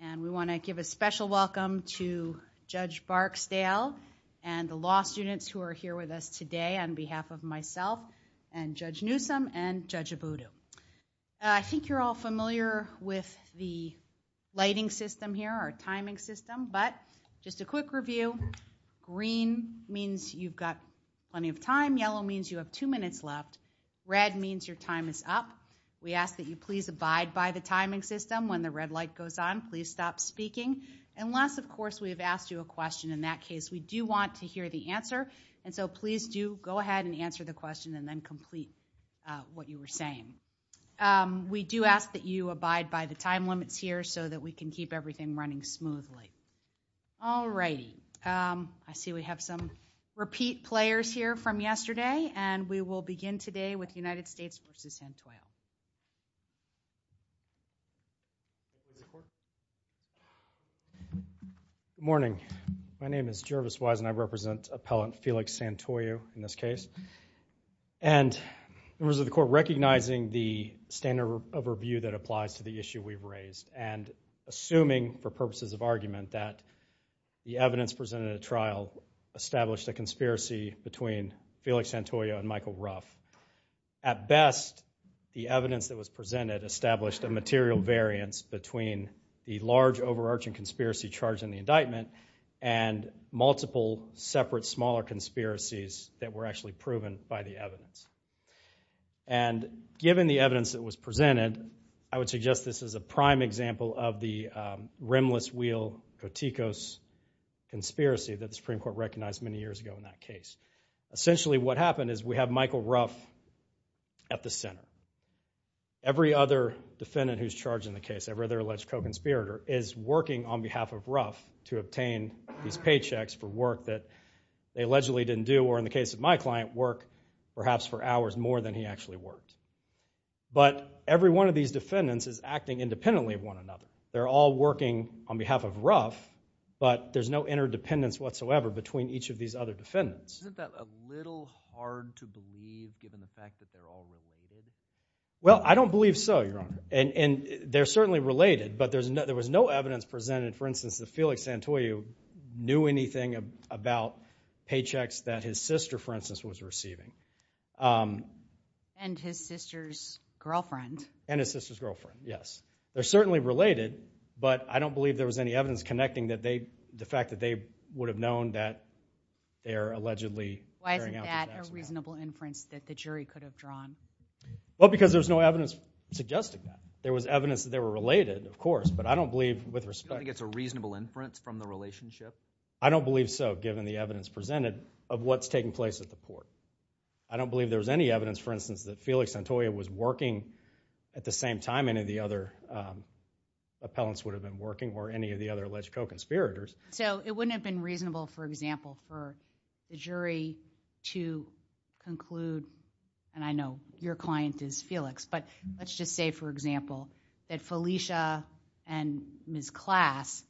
and we want to give a special welcome to Judge Barksdale and the law students who are here with us today on behalf of myself and Judge Newsom and Judge Abudu. I think you're all familiar with the lighting system here, our timing system, but just a quick review. Green means you've got plenty of time. Yellow means you have two minutes left. Red means your time is up. We ask that you please abide by the timing system when the red light goes on. Please stop speaking unless, of course, we have asked you a question. In that case, we do want to hear the answer and so please do go ahead and answer the question and then complete what you were saying. We do ask that you abide by the time limits here so that we can keep everything running smoothly. Alrighty, I see we have some repeat players here from yesterday and we will begin today with United States v. Santoyo. Good morning. My name is Jervis Wise and I represent appellant Felix Santoyo in this case. And members of the court, recognizing the standard of review that applies to the issue we've raised and assuming for purposes of argument that the evidence presented at trial established a material variance between the large overarching conspiracy charge in the indictment and multiple separate smaller conspiracies that were actually proven by the evidence. And given the evidence that was presented, I would suggest this is a prime example of the rimless wheel Kotikos conspiracy that the Supreme Court recognized many years ago in that case. Essentially what happened is we have Michael Ruff at the center. Every other defendant who's charged in the case, every other alleged co-conspirator is working on behalf of Ruff to obtain these paychecks for work that they allegedly didn't do or in the case of my client, work perhaps for hours more than he actually worked. But every one of these defendants is acting independently of one another. They're all working on behalf of Ruff but there's no interdependence whatsoever between each of these other defendants. Isn't that a little hard to believe given the fact that they're all related? Well, I don't believe so, Your Honor. And they're certainly related but there was no evidence presented, for instance, that Felix Santoyo knew anything about paychecks that his sister, for instance, was receiving. And his sister's girlfriend. And his sister's girlfriend, yes. They're certainly related but I don't believe there would have known that they're allegedly carrying out paychecks. Why isn't that a reasonable inference that the jury could have drawn? Well, because there's no evidence suggesting that. There was evidence that they were related, of course, but I don't believe with respect... You don't think it's a reasonable inference from the relationship? I don't believe so given the evidence presented of what's taking place at the court. I don't believe there's any evidence, for instance, that Felix Santoyo was working at the same time any of the other appellants would have been working or any of the other alleged co-conspirators. So, it wouldn't have been reasonable, for example, for the jury to conclude, and I know your client is Felix, but let's just say, for example, that Felicia and Ms. Class,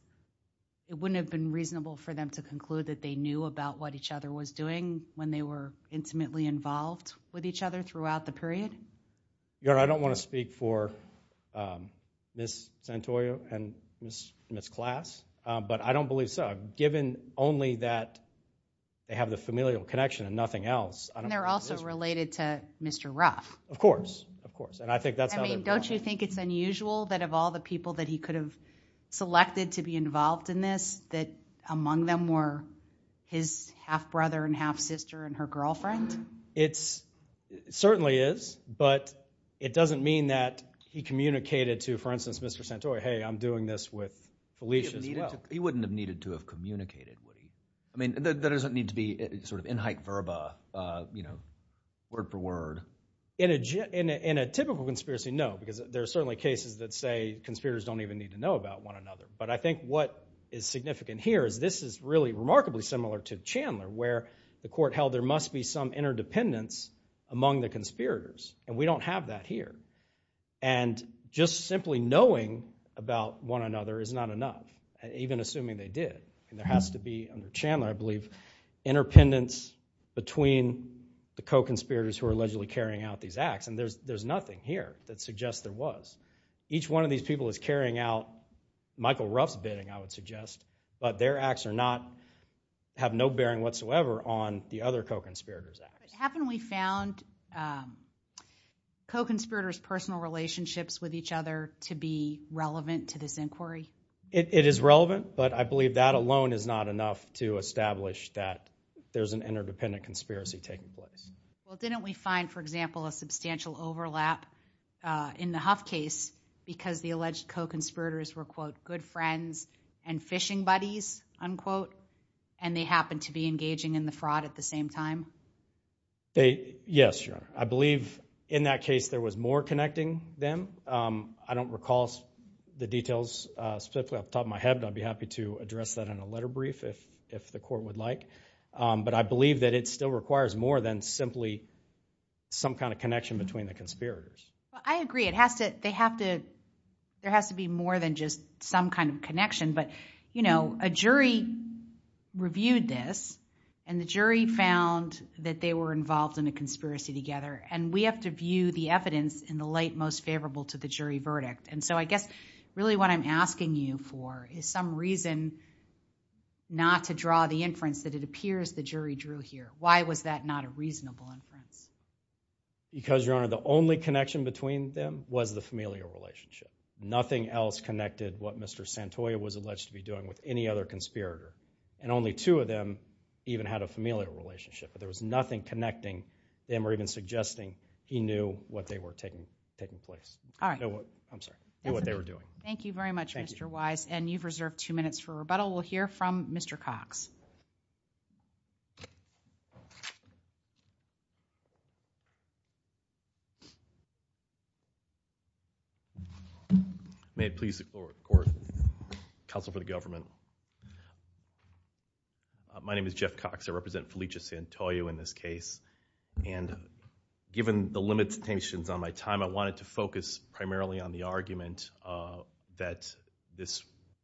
it wouldn't have been reasonable for them to conclude that they knew about what each other was doing when they were intimately involved with each other throughout the period? Your Honor, I don't want to speak for Ms. Santoyo and Ms. Class, but I don't believe so. Given only that they have the familial connection and nothing else, I don't... They're also related to Mr. Ruff. Of course, of course, and I think that's... I mean, don't you think it's unusual that of all the people that he could have selected to be involved in this, that among them were his half-brother and half-sister and her girlfriend? It certainly is, but it doesn't mean that he communicated to, for instance, Mr. Santoyo, hey, I'm doing this with Felicia as well. He wouldn't have needed to have communicated, would he? I mean, that doesn't need to be sort of in-hype verba, you know, word for word. In a typical conspiracy, no, because there are certainly cases that say conspirators don't even need to know about one another. But I think what is significant here is this is really remarkably similar to Chandler, where the court held there must be some interdependence among the conspirators, and we don't have that here. And just simply knowing about one another is not enough, even assuming they did. And there has to be, under Chandler, I believe, interdependence between the co-conspirators who are allegedly carrying out these acts. And there's nothing here that suggests there was. Each one of these people is carrying out Michael Ruff's bidding, I would suggest, but their acts are not, have no bearing whatsoever on the other co-conspirators' acts. But haven't we found co-conspirators' personal relationships with each other to be relevant to this inquiry? It is relevant, but I believe that alone is not enough to establish that there's an interdependent conspiracy taking place. Well, didn't we find, for example, a substantial overlap in the Huff case because the alleged co-conspirators were, quote, good friends and fishing buddies, unquote, and they happened to be engaging in the fraud at the same time? Yes, Your Honor. I believe in that case there was more connecting them. I don't recall the details specifically off the top of my head, but I'd be happy to address that in a letter brief if the court would like. But I believe that it still requires more than simply some kind of connection between the conspirators. I agree. It has to, they have to, there has to be more than just some kind of connection. But, you know, a jury reviewed this, and the jury found that they were involved in a conspiracy together. And we have to view the evidence in the light most favorable to the jury verdict. And so I guess really what I'm asking you for is some reason not to draw the inference that it appears the jury drew here. Why was that not a reasonable inference? Because, Your Honor, the only connection between them was the familial relationship. Nothing else connected what Mr. Santoya was alleged to be doing with any other conspirator. And only two of them even had a familial relationship. But there was nothing connecting them or even suggesting he knew what they were taking place. All right. I'm sorry. He knew what they were doing. Thank you very much, Mr. Wise. And you've reserved two minutes for rebuttal. We'll hear from Mr. Cox. May it please the court, counsel for the government. My name is Jeff Cox. I represent Felicia Santoya in this case. And given the limitations on my time, I wanted to focus primarily on the argument that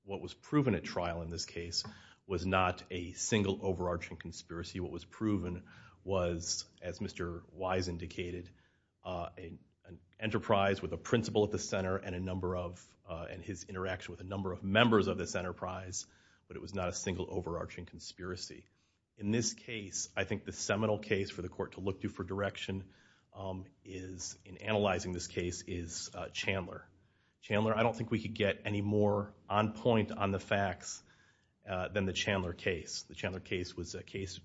what was proven at trial in this case was not a single overarching conspiracy. What was proven was, as Mr. Wise indicated, an enterprise with a principal at the center and a number of, and his interaction with a number of members of this enterprise. But it was not a single overarching conspiracy. In this case, I think the seminal case for the court to look to for direction is, in analyzing this case, is Chandler. Chandler, I don't think we could get any more on point on the facts than the Chandler case. The Chandler case was a case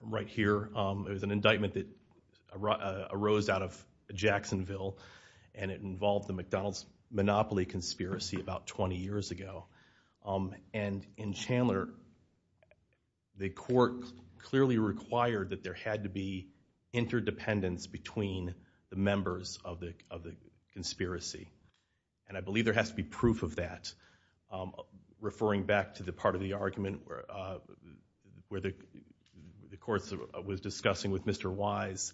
right here. It was an indictment that arose out of Jacksonville. And it involved the McDonald's Monopoly conspiracy about 20 years ago. And in Chandler, the court clearly required that there had to be interdependence between the members of the conspiracy. And I believe there has to be proof of that. Referring back to the part of the argument where the court was discussing with Mr. Wise,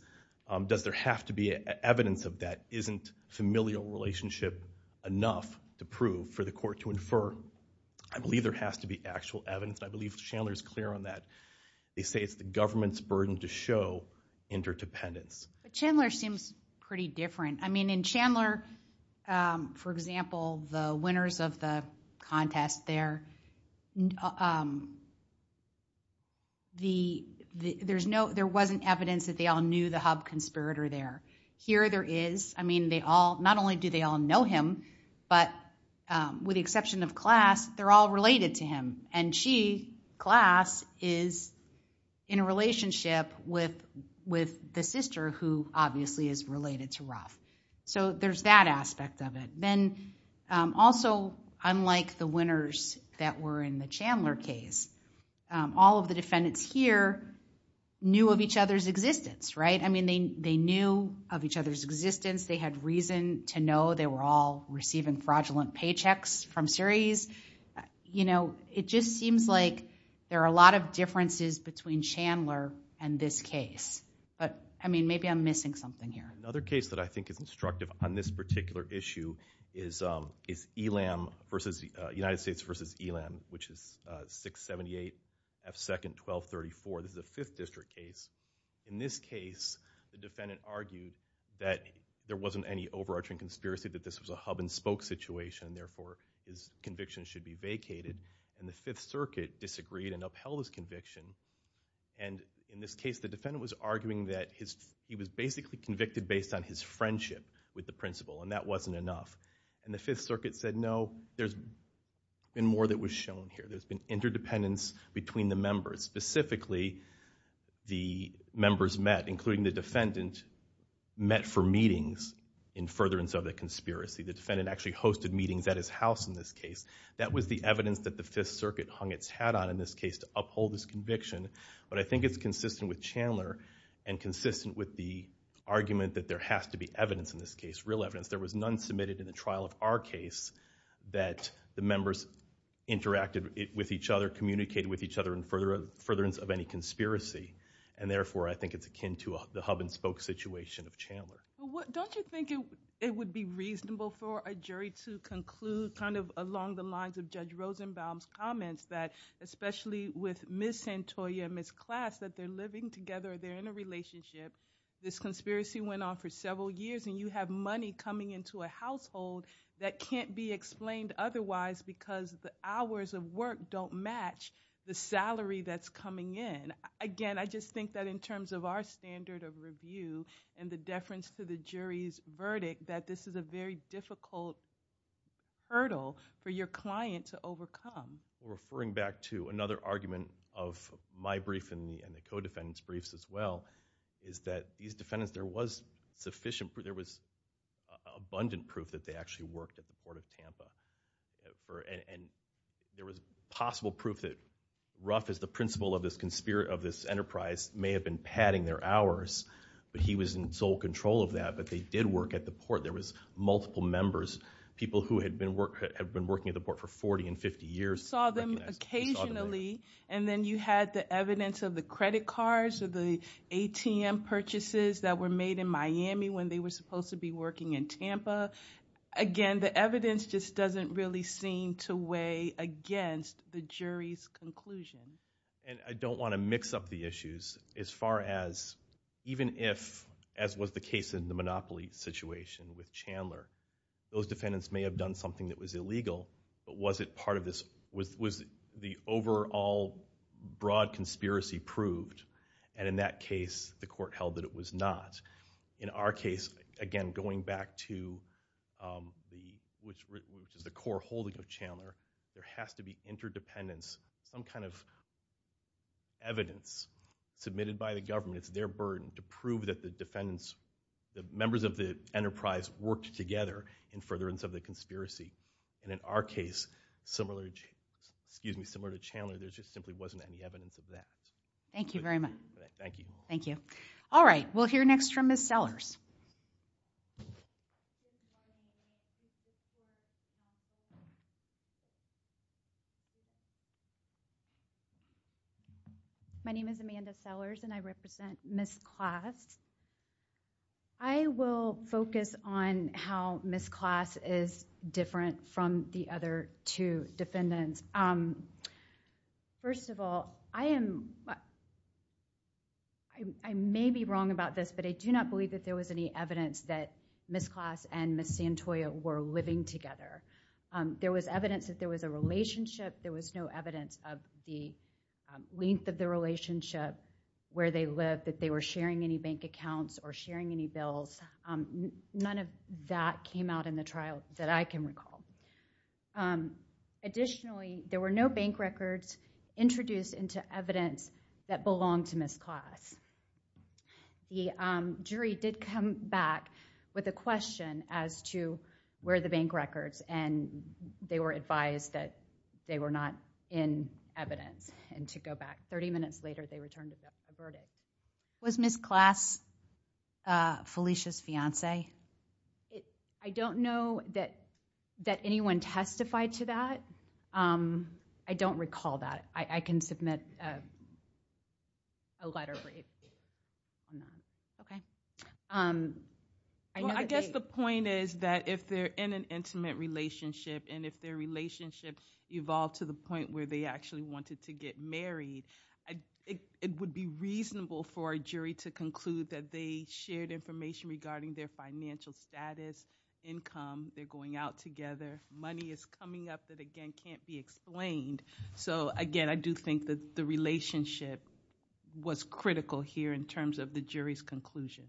does there have to be evidence of that? Isn't familial relationship enough to prove for the court to infer? I believe there has to be actual evidence. And I believe Chandler is clear on that. They say it's the government's burden to show interdependence. But Chandler seems pretty different. In Chandler, for example, the winners of the contest there, there wasn't evidence that they all knew the hub conspirator there. Here there is. Not only do they all know him, but with the exception of Class, they're all related to him. And she, Class, is in a relationship with the sister who obviously is related to Ruff. So there's that aspect of it. Then also, unlike the winners that were in the Chandler case, all of the defendants here knew of each other's existence, right? I mean, they knew of each other's existence. They had reason to know they were all receiving fraudulent paychecks from series. You know, it just seems like there are a lot of differences between Chandler and this case. But I mean, maybe I'm missing something here. Another case that I think is instructive on this particular issue is ELAM versus United States versus ELAM, which is 678 F2nd 1234. This is a Fifth District case. In this case, the defendant argued that there wasn't any overarching conspiracy, that this was a hub and spoke situation. Therefore, his conviction should be vacated. And the Fifth Circuit disagreed and upheld his conviction. And in this case, the defendant was arguing that he was basically convicted based on his friendship with the principal, and that wasn't enough. And the Fifth Circuit said, no, there's been more that was shown here. There's been interdependence between the members. Specifically, the members met, including the defendant, met for meetings in furtherance of the conspiracy. The defendant actually hosted meetings at his house in this case. That was the evidence that the Fifth Circuit hung its hat on in this case to uphold his conviction. But I think it's consistent with Chandler and consistent with the argument that there has to be evidence in this case, real evidence. There was none submitted in the trial of our case that the members interacted with each other, communicated with each other in furtherance of any conspiracy. And therefore, I think it's akin to the hub and spoke situation of Chandler. Well, don't you think it would be reasonable for a jury to conclude kind of along the lines of Judge Rosenbaum's comments that especially with Ms. Santoya and Ms. Class, that they're living together, they're in a relationship. This conspiracy went on for several years, and you have money coming into a household that can't be explained otherwise because the hours of work don't match the salary that's coming in. Again, I just think that in terms of our standard of review and the deference to the jury's verdict, that this is a very difficult hurdle for your client to overcome. Referring back to another argument of my brief and the co-defendants' briefs as well, is that these defendants, there was sufficient proof, there was abundant proof that they actually worked at the Port of Tampa. And there was possible proof that Ruff is the principal of this enterprise, may have been padding their hours, but he was in sole control of that. But they did work at the port. There was multiple members, people who had been working at the port for 40 and 50 years. We saw them occasionally. And then you had the evidence of the credit cards or the ATM purchases that were made in Miami when they were supposed to be working in Tampa. Again, the evidence just doesn't really seem to weigh against the jury's conclusion. And I don't want to mix up the issues as far as, even if, as was the case in the Monopoly situation with Chandler, those defendants may have done something that was illegal, but was it part of this, was the overall broad conspiracy proved? And in that case, the court held that it was not. In our case, again, going back to the, which is the core holding of Chandler, there has to be interdependence, some kind of evidence submitted by the government. It's their burden to prove that the defendants, the members of the enterprise worked together in furtherance of the conspiracy. And in our case, similar, excuse me, similar to Chandler, there just simply wasn't any evidence of that. Thank you very much. Thank you. Thank you. All right, we'll hear next from Ms. Sellers. My name is Amanda Sellers and I represent Ms. Class. I will focus on how Ms. Class is different from the other two defendants. First of all, I am, I may be wrong about this, but I do not believe that there was any evidence that Ms. Class and Ms. Santoya were living together. There was evidence that there was a relationship. There was no evidence of the length of the relationship, where they lived, that they were sharing any bank accounts or sharing any bills. None of that came out in the trial that I can recall. Additionally, there were no bank records introduced into evidence that belonged to Ms. Class. The jury did come back with a question as to where the bank records and they were advised that they were not in evidence. And to go back 30 minutes later, they returned a verdict. Was Ms. Class Felicia's fiance? I don't know that anyone testified to that. I don't recall that. I can submit a letter for you. Okay. I guess the point is that if they're in an intimate relationship and if their relationship evolved to the point where they actually wanted to get married, it would be reasonable for a jury to conclude that they shared information regarding their financial status, income, they're going out together, money is coming up that, again, can't be explained. So again, I do think that the relationship was critical here in terms of the jury's conclusion.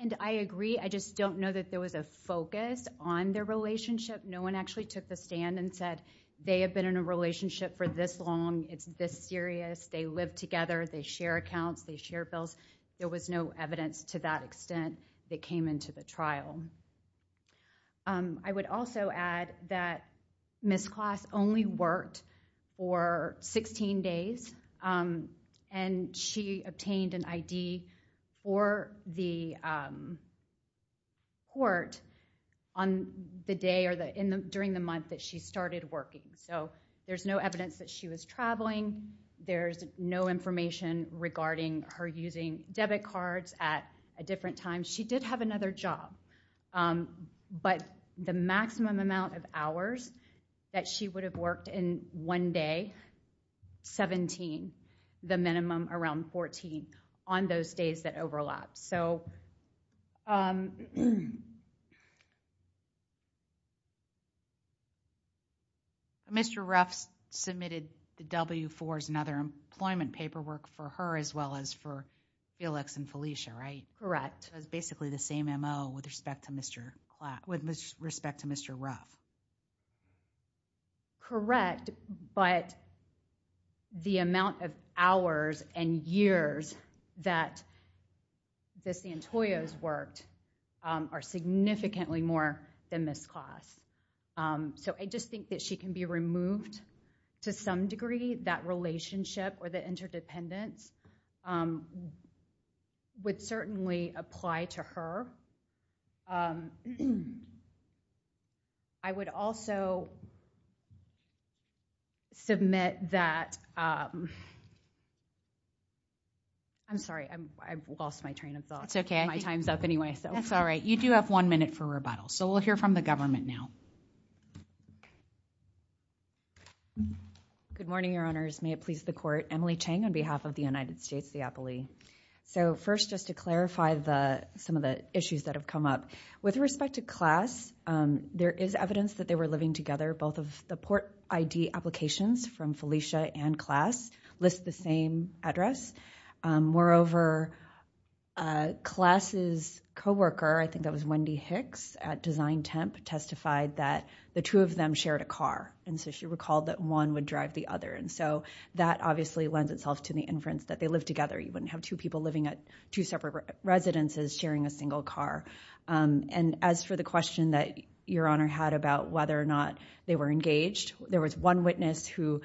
And I agree. I just don't know that there was a focus on their relationship. No one actually took the stand and said they have been in a relationship for this long. It's this serious. They live together. They share accounts. They share bills. There was no evidence to that extent that came into the trial. I would also add that Ms. Class only worked for 16 days and she obtained an ID for the court on the day or during the month that she started working. So there's no evidence that she was traveling. There's no information regarding her using debit cards at a different time. She did have another job. But the maximum amount of hours that she would have worked in one day, 17, the minimum around 14 on those days that overlap. So Mr. Ruff submitted the W-4s and other employment paperwork for her as well as for Felix and Felicia, right? Correct. It was basically the same MO with respect to Mr. Ruff. Correct, but the amount of hours and years that the Santoyos worked are significantly more than Ms. Class. So I just think that she can be removed to some degree. That relationship or the interdependence would certainly apply to her. I would also submit that... I'm sorry, I lost my train of thought. It's okay. My time's up anyway. That's all right. You do have one minute for rebuttal. So we'll hear from the government now. Good morning, Your Honors. May it please the court. Emily Chang on behalf of the United States Diapole. So first, just to clarify some of the issues that have come up. With respect to Class, there is evidence that they were living together. Both of the Port ID applications from Felicia and Class list the same address. Moreover, Class's coworker, I think that was Wendy Hicks at Design Temp, testified that the two of them shared a car. And so she recalled that one would drive the other. And so that obviously lends itself to the inference that they lived together. You wouldn't have two people living at two separate residences sharing a single car. And as for the question that Your Honor had about whether or not they were engaged, there was one witness who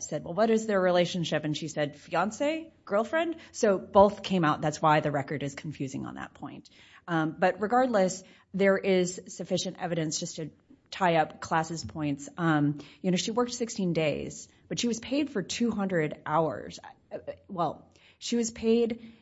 said, well, what is their relationship? And she said, fiance? Girlfriend? So both came out. That's why the record is confusing on that point. But regardless, there is sufficient evidence just to tie up Class's points. She worked 16 days, but she was paid for 200 hours. Well, she was paid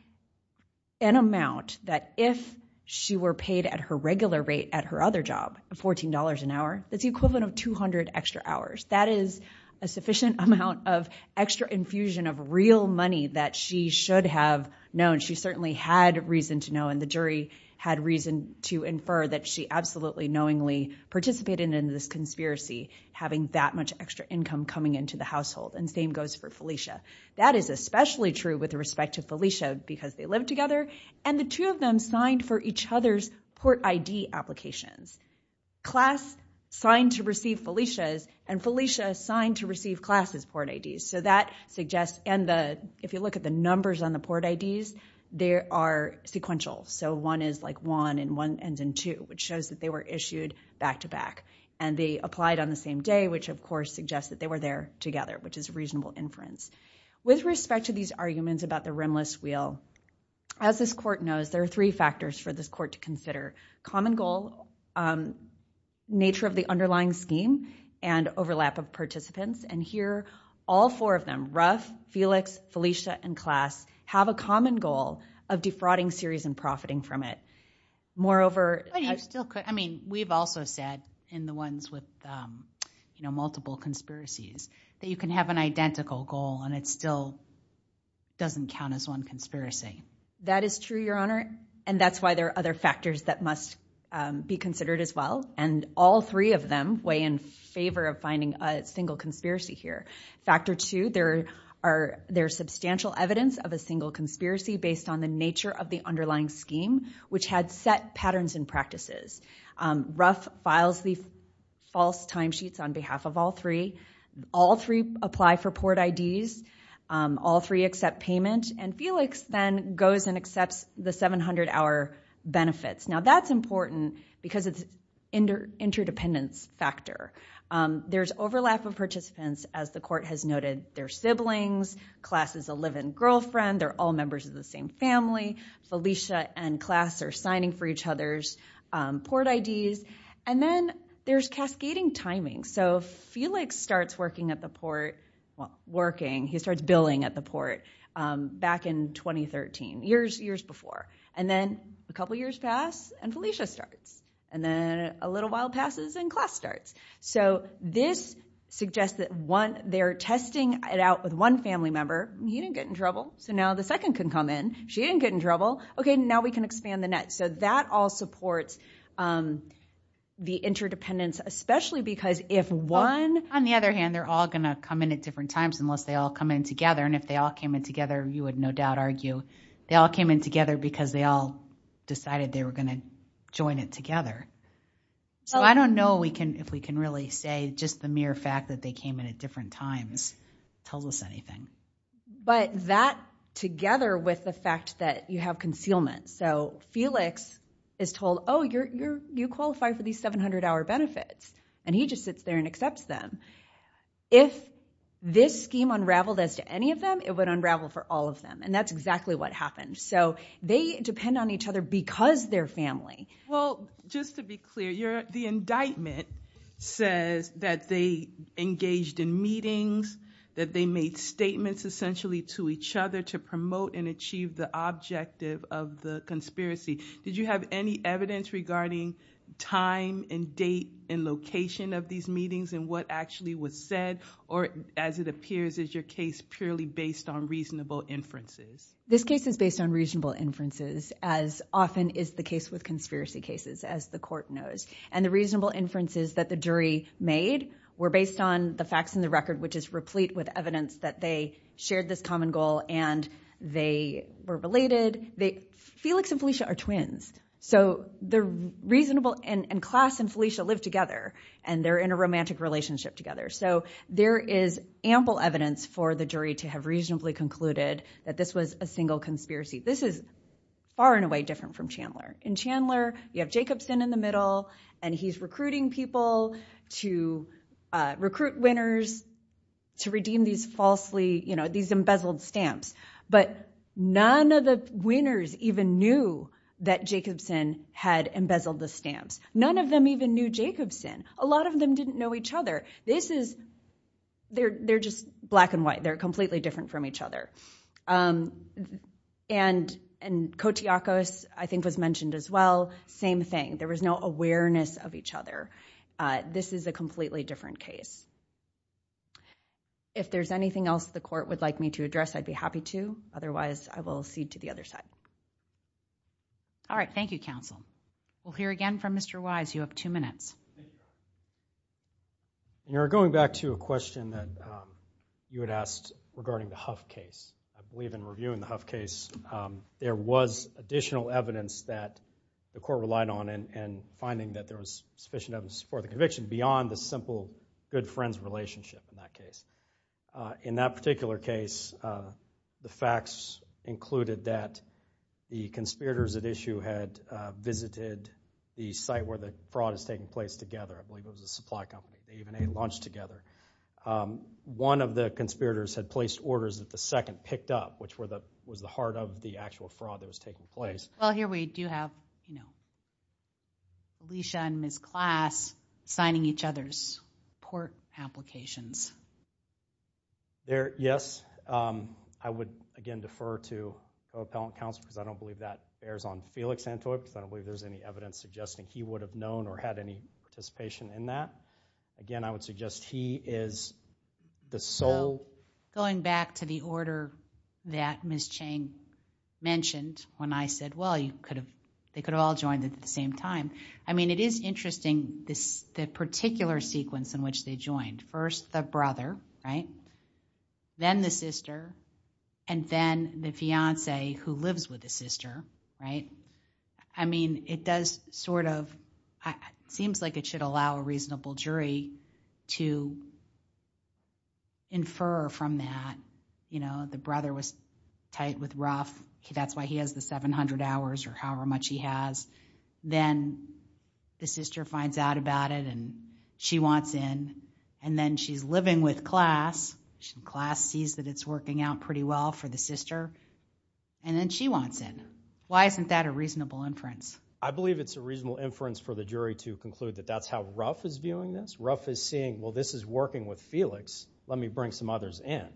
an amount that if she were paid at her regular rate at her other job of $14 an hour, that's the equivalent of 200 extra hours. That is a sufficient amount of extra infusion of real money that she should have known. She certainly had reason to know. And the jury had reason to infer that she absolutely knowingly participated in this conspiracy, having that much extra income coming into the household. And same goes for Felicia. That is especially true with respect to Felicia, because they lived together. And the two of them signed for each other's Port ID applications. Class signed to receive Felicia's, and Felicia signed to receive Class's Port IDs. So that suggests, and if you look at the numbers on the Port IDs, they are sequential. So one is like one, and one ends in two, which shows that they were issued back to back. And they applied on the same day, which of course suggests that they were there together, which is a reasonable inference. With respect to these arguments about the rimless wheel, as this court knows, there are three factors for this court to consider. Common goal, nature of the underlying scheme, and overlap of participants. And here, all four of them, Ruff, Felix, Felicia, and Class have a common goal of defrauding Ceres and profiting from it. Moreover, I still could. I mean, we've also said in the ones with multiple conspiracies that you can have an identical goal, and it still doesn't count as one conspiracy. That is true, Your Honor. And that's why there are other factors that must be considered as well. And all three of them weigh in favor of finding a single conspiracy here. Factor two, there are substantial evidence of a single conspiracy based on the nature of the underlying scheme, which had set patterns and practices. Ruff files the false timesheets on behalf of all three. All three apply for port IDs. All three accept payment. And Felix then goes and accepts the 700-hour benefits. Now, that's important because it's interdependence factor. There's overlap of participants, as the court has noted their siblings. Class is a live-in girlfriend. They're all members of the same family. Felicia and Class are signing for each other's port IDs. And then there's cascading timing. So Felix starts working at the port, working, he starts billing at the port back in 2013, years before. And then a couple years pass, and Felicia starts. And then a little while passes, and Class starts. So this suggests that they're testing it out with one family member. He didn't get in trouble. So now the second can come in. She didn't get in trouble. Okay, now we can expand the net. So that all supports the interdependence, especially because if one- On the other hand, they're all gonna come in at different times unless they all come in together. And if they all came in together, you would no doubt argue they all came in together because they all decided they were gonna join it together. So I don't know if we can really say just the mere fact that they came in at different times tells us anything. But that together with the fact that you have concealment. So Felix is told, oh, you qualify for these 700-hour benefits. And he just sits there and accepts them. If this scheme unraveled as to any of them, it would unravel for all of them. And that's exactly what happened. So they depend on each other because they're family. Well, just to be clear, the indictment says that they engaged in meetings, that they made statements essentially to each other to promote and achieve the objective of the conspiracy. Did you have any evidence regarding time and date and location of these meetings and what actually was said? Or as it appears, is your case purely based on reasonable inferences? This case is based on reasonable inferences as often is the case with conspiracy cases as the court knows. And the reasonable inferences that the jury made were based on the facts in the record, which is replete with evidence that they shared this common goal and they were related. Felix and Felicia are twins. So they're reasonable. And Klaas and Felicia live together and they're in a romantic relationship together. So there is ample evidence for the jury to have reasonably concluded that this was a single conspiracy. This is far and away different from Chandler. In Chandler, you have Jacobson in the middle and he's recruiting people to recruit winners to redeem these falsely, these embezzled stamps. But none of the winners even knew that Jacobson had embezzled the stamps. None of them even knew Jacobson. A lot of them didn't know each other. This is, they're just black and white. They're completely different from each other. And Kotiakos, I think was mentioned as well. Same thing. There was no awareness of each other. If there's anything else the court would like me to address, I'd be happy to. Otherwise, I will cede to the other side. All right. Thank you, counsel. We'll hear again from Mr. Wise. You have two minutes. You're going back to a question that you had asked regarding the Huff case. I believe in reviewing the Huff case, there was additional evidence that the court relied on and finding that there was sufficient evidence to support the conviction beyond the simple good friends relationship in that case. In that particular case, the facts included that the conspirators at issue had visited the site where the fraud is taking place together. I believe it was a supply company. They even ate lunch together. One of the conspirators had placed orders that the second picked up, which was the heart of the actual fraud that was taking place. Well, here we do have, you know, Alicia and Ms. Class signing each other's court applications. There, yes. I would, again, defer to the appellant counsel because I don't believe that bears on Felix Antoi because I don't believe there's any evidence suggesting he would have known or had any participation in that. Again, I would suggest he is the sole... Going back to the order that Ms. Chang mentioned when I said, well, they could have all joined at the same time. I mean, it is interesting this particular sequence in which they joined. First, the brother. Right? Then the sister. And then the fiance who lives with the sister. Right? I mean, it does sort of... Seems like it should allow a reasonable jury to infer from that, you know, the brother was tight with Ruff. That's why he has the 700 hours or however much he has. Then the sister finds out about it and she wants in. And then she's living with Class. Class sees that it's working out pretty well for the sister. And then she wants in. Why isn't that a reasonable inference? I believe it's a reasonable inference for the jury to conclude that that's how Ruff is viewing this. Ruff is seeing, well, this is working with Felix. Let me bring some others in.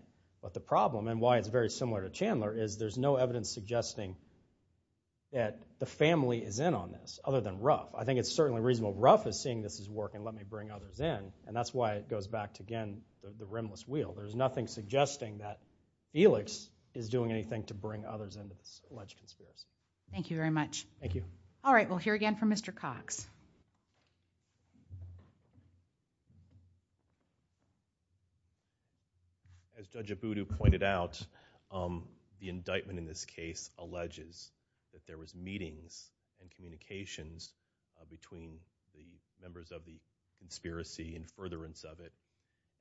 But the problem, and why it's very similar to Chandler, is there's no evidence suggesting that the family is in on this other than Ruff. I think it's certainly reasonable. Ruff is seeing this is working. Let me bring others in. And that's why it goes back to, again, the rimless wheel. There's nothing suggesting that Felix is doing anything to bring others into this alleged conspiracy. Thank you very much. Thank you. All right. We'll hear again from Mr. Cox. As Judge Abudu pointed out, the indictment in this case alleges that there was meetings and communications between the members of the conspiracy in furtherance of it.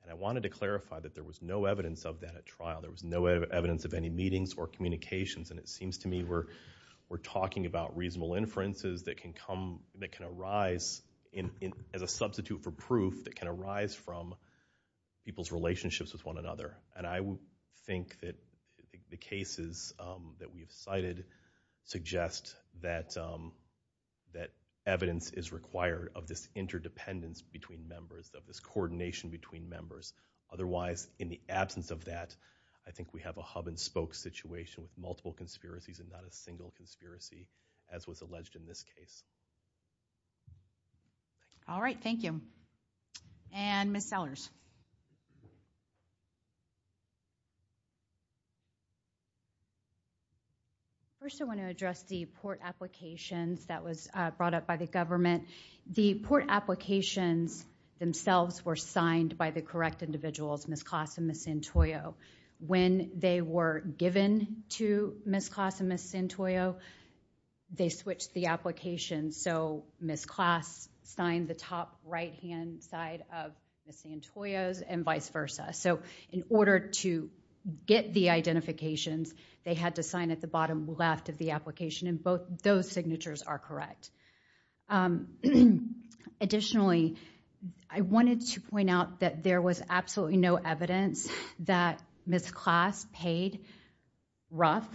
And I wanted to clarify that there was no evidence of that at trial. There was no evidence of any meetings or communications. And it seems to me we're talking about reasonable inferences that can arise as a substitute for proof that can arise from people's relationships with one another. And I think that the cases that we've cited suggest that evidence is required of this interdependence between members, of this coordination between members. Otherwise, in the absence of that, I think we have a hub-and-spoke situation with multiple conspiracies and not a single conspiracy, as was alleged in this case. All right. Thank you. And Ms. Sellers. First, I want to address the port applications that was brought up by the government. The port applications themselves were signed by the correct individuals, Ms. Class and Ms. Santoyo. When they were given to Ms. Class and Ms. Santoyo, they switched the applications. So Ms. Class signed the top right-hand side of Ms. Santoyo's and vice versa. So in order to get the identifications, they had to sign at the bottom left of the application. And both those signatures are correct. Additionally, I wanted to point out that there was absolutely no evidence that Ms. Class paid Ruff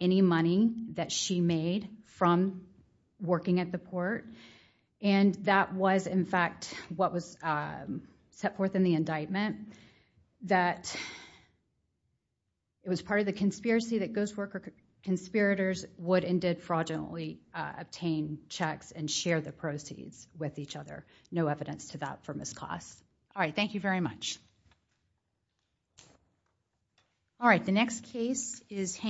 any money that she made from working at the port. And that was, in fact, what was set forth in the indictment, that it was part of the conspiracy that ghost worker conspirators would and did fraudulently obtain checks and share the proceeds with each other. No evidence to that from Ms. Class. All right, thank you very much. All right, the next case is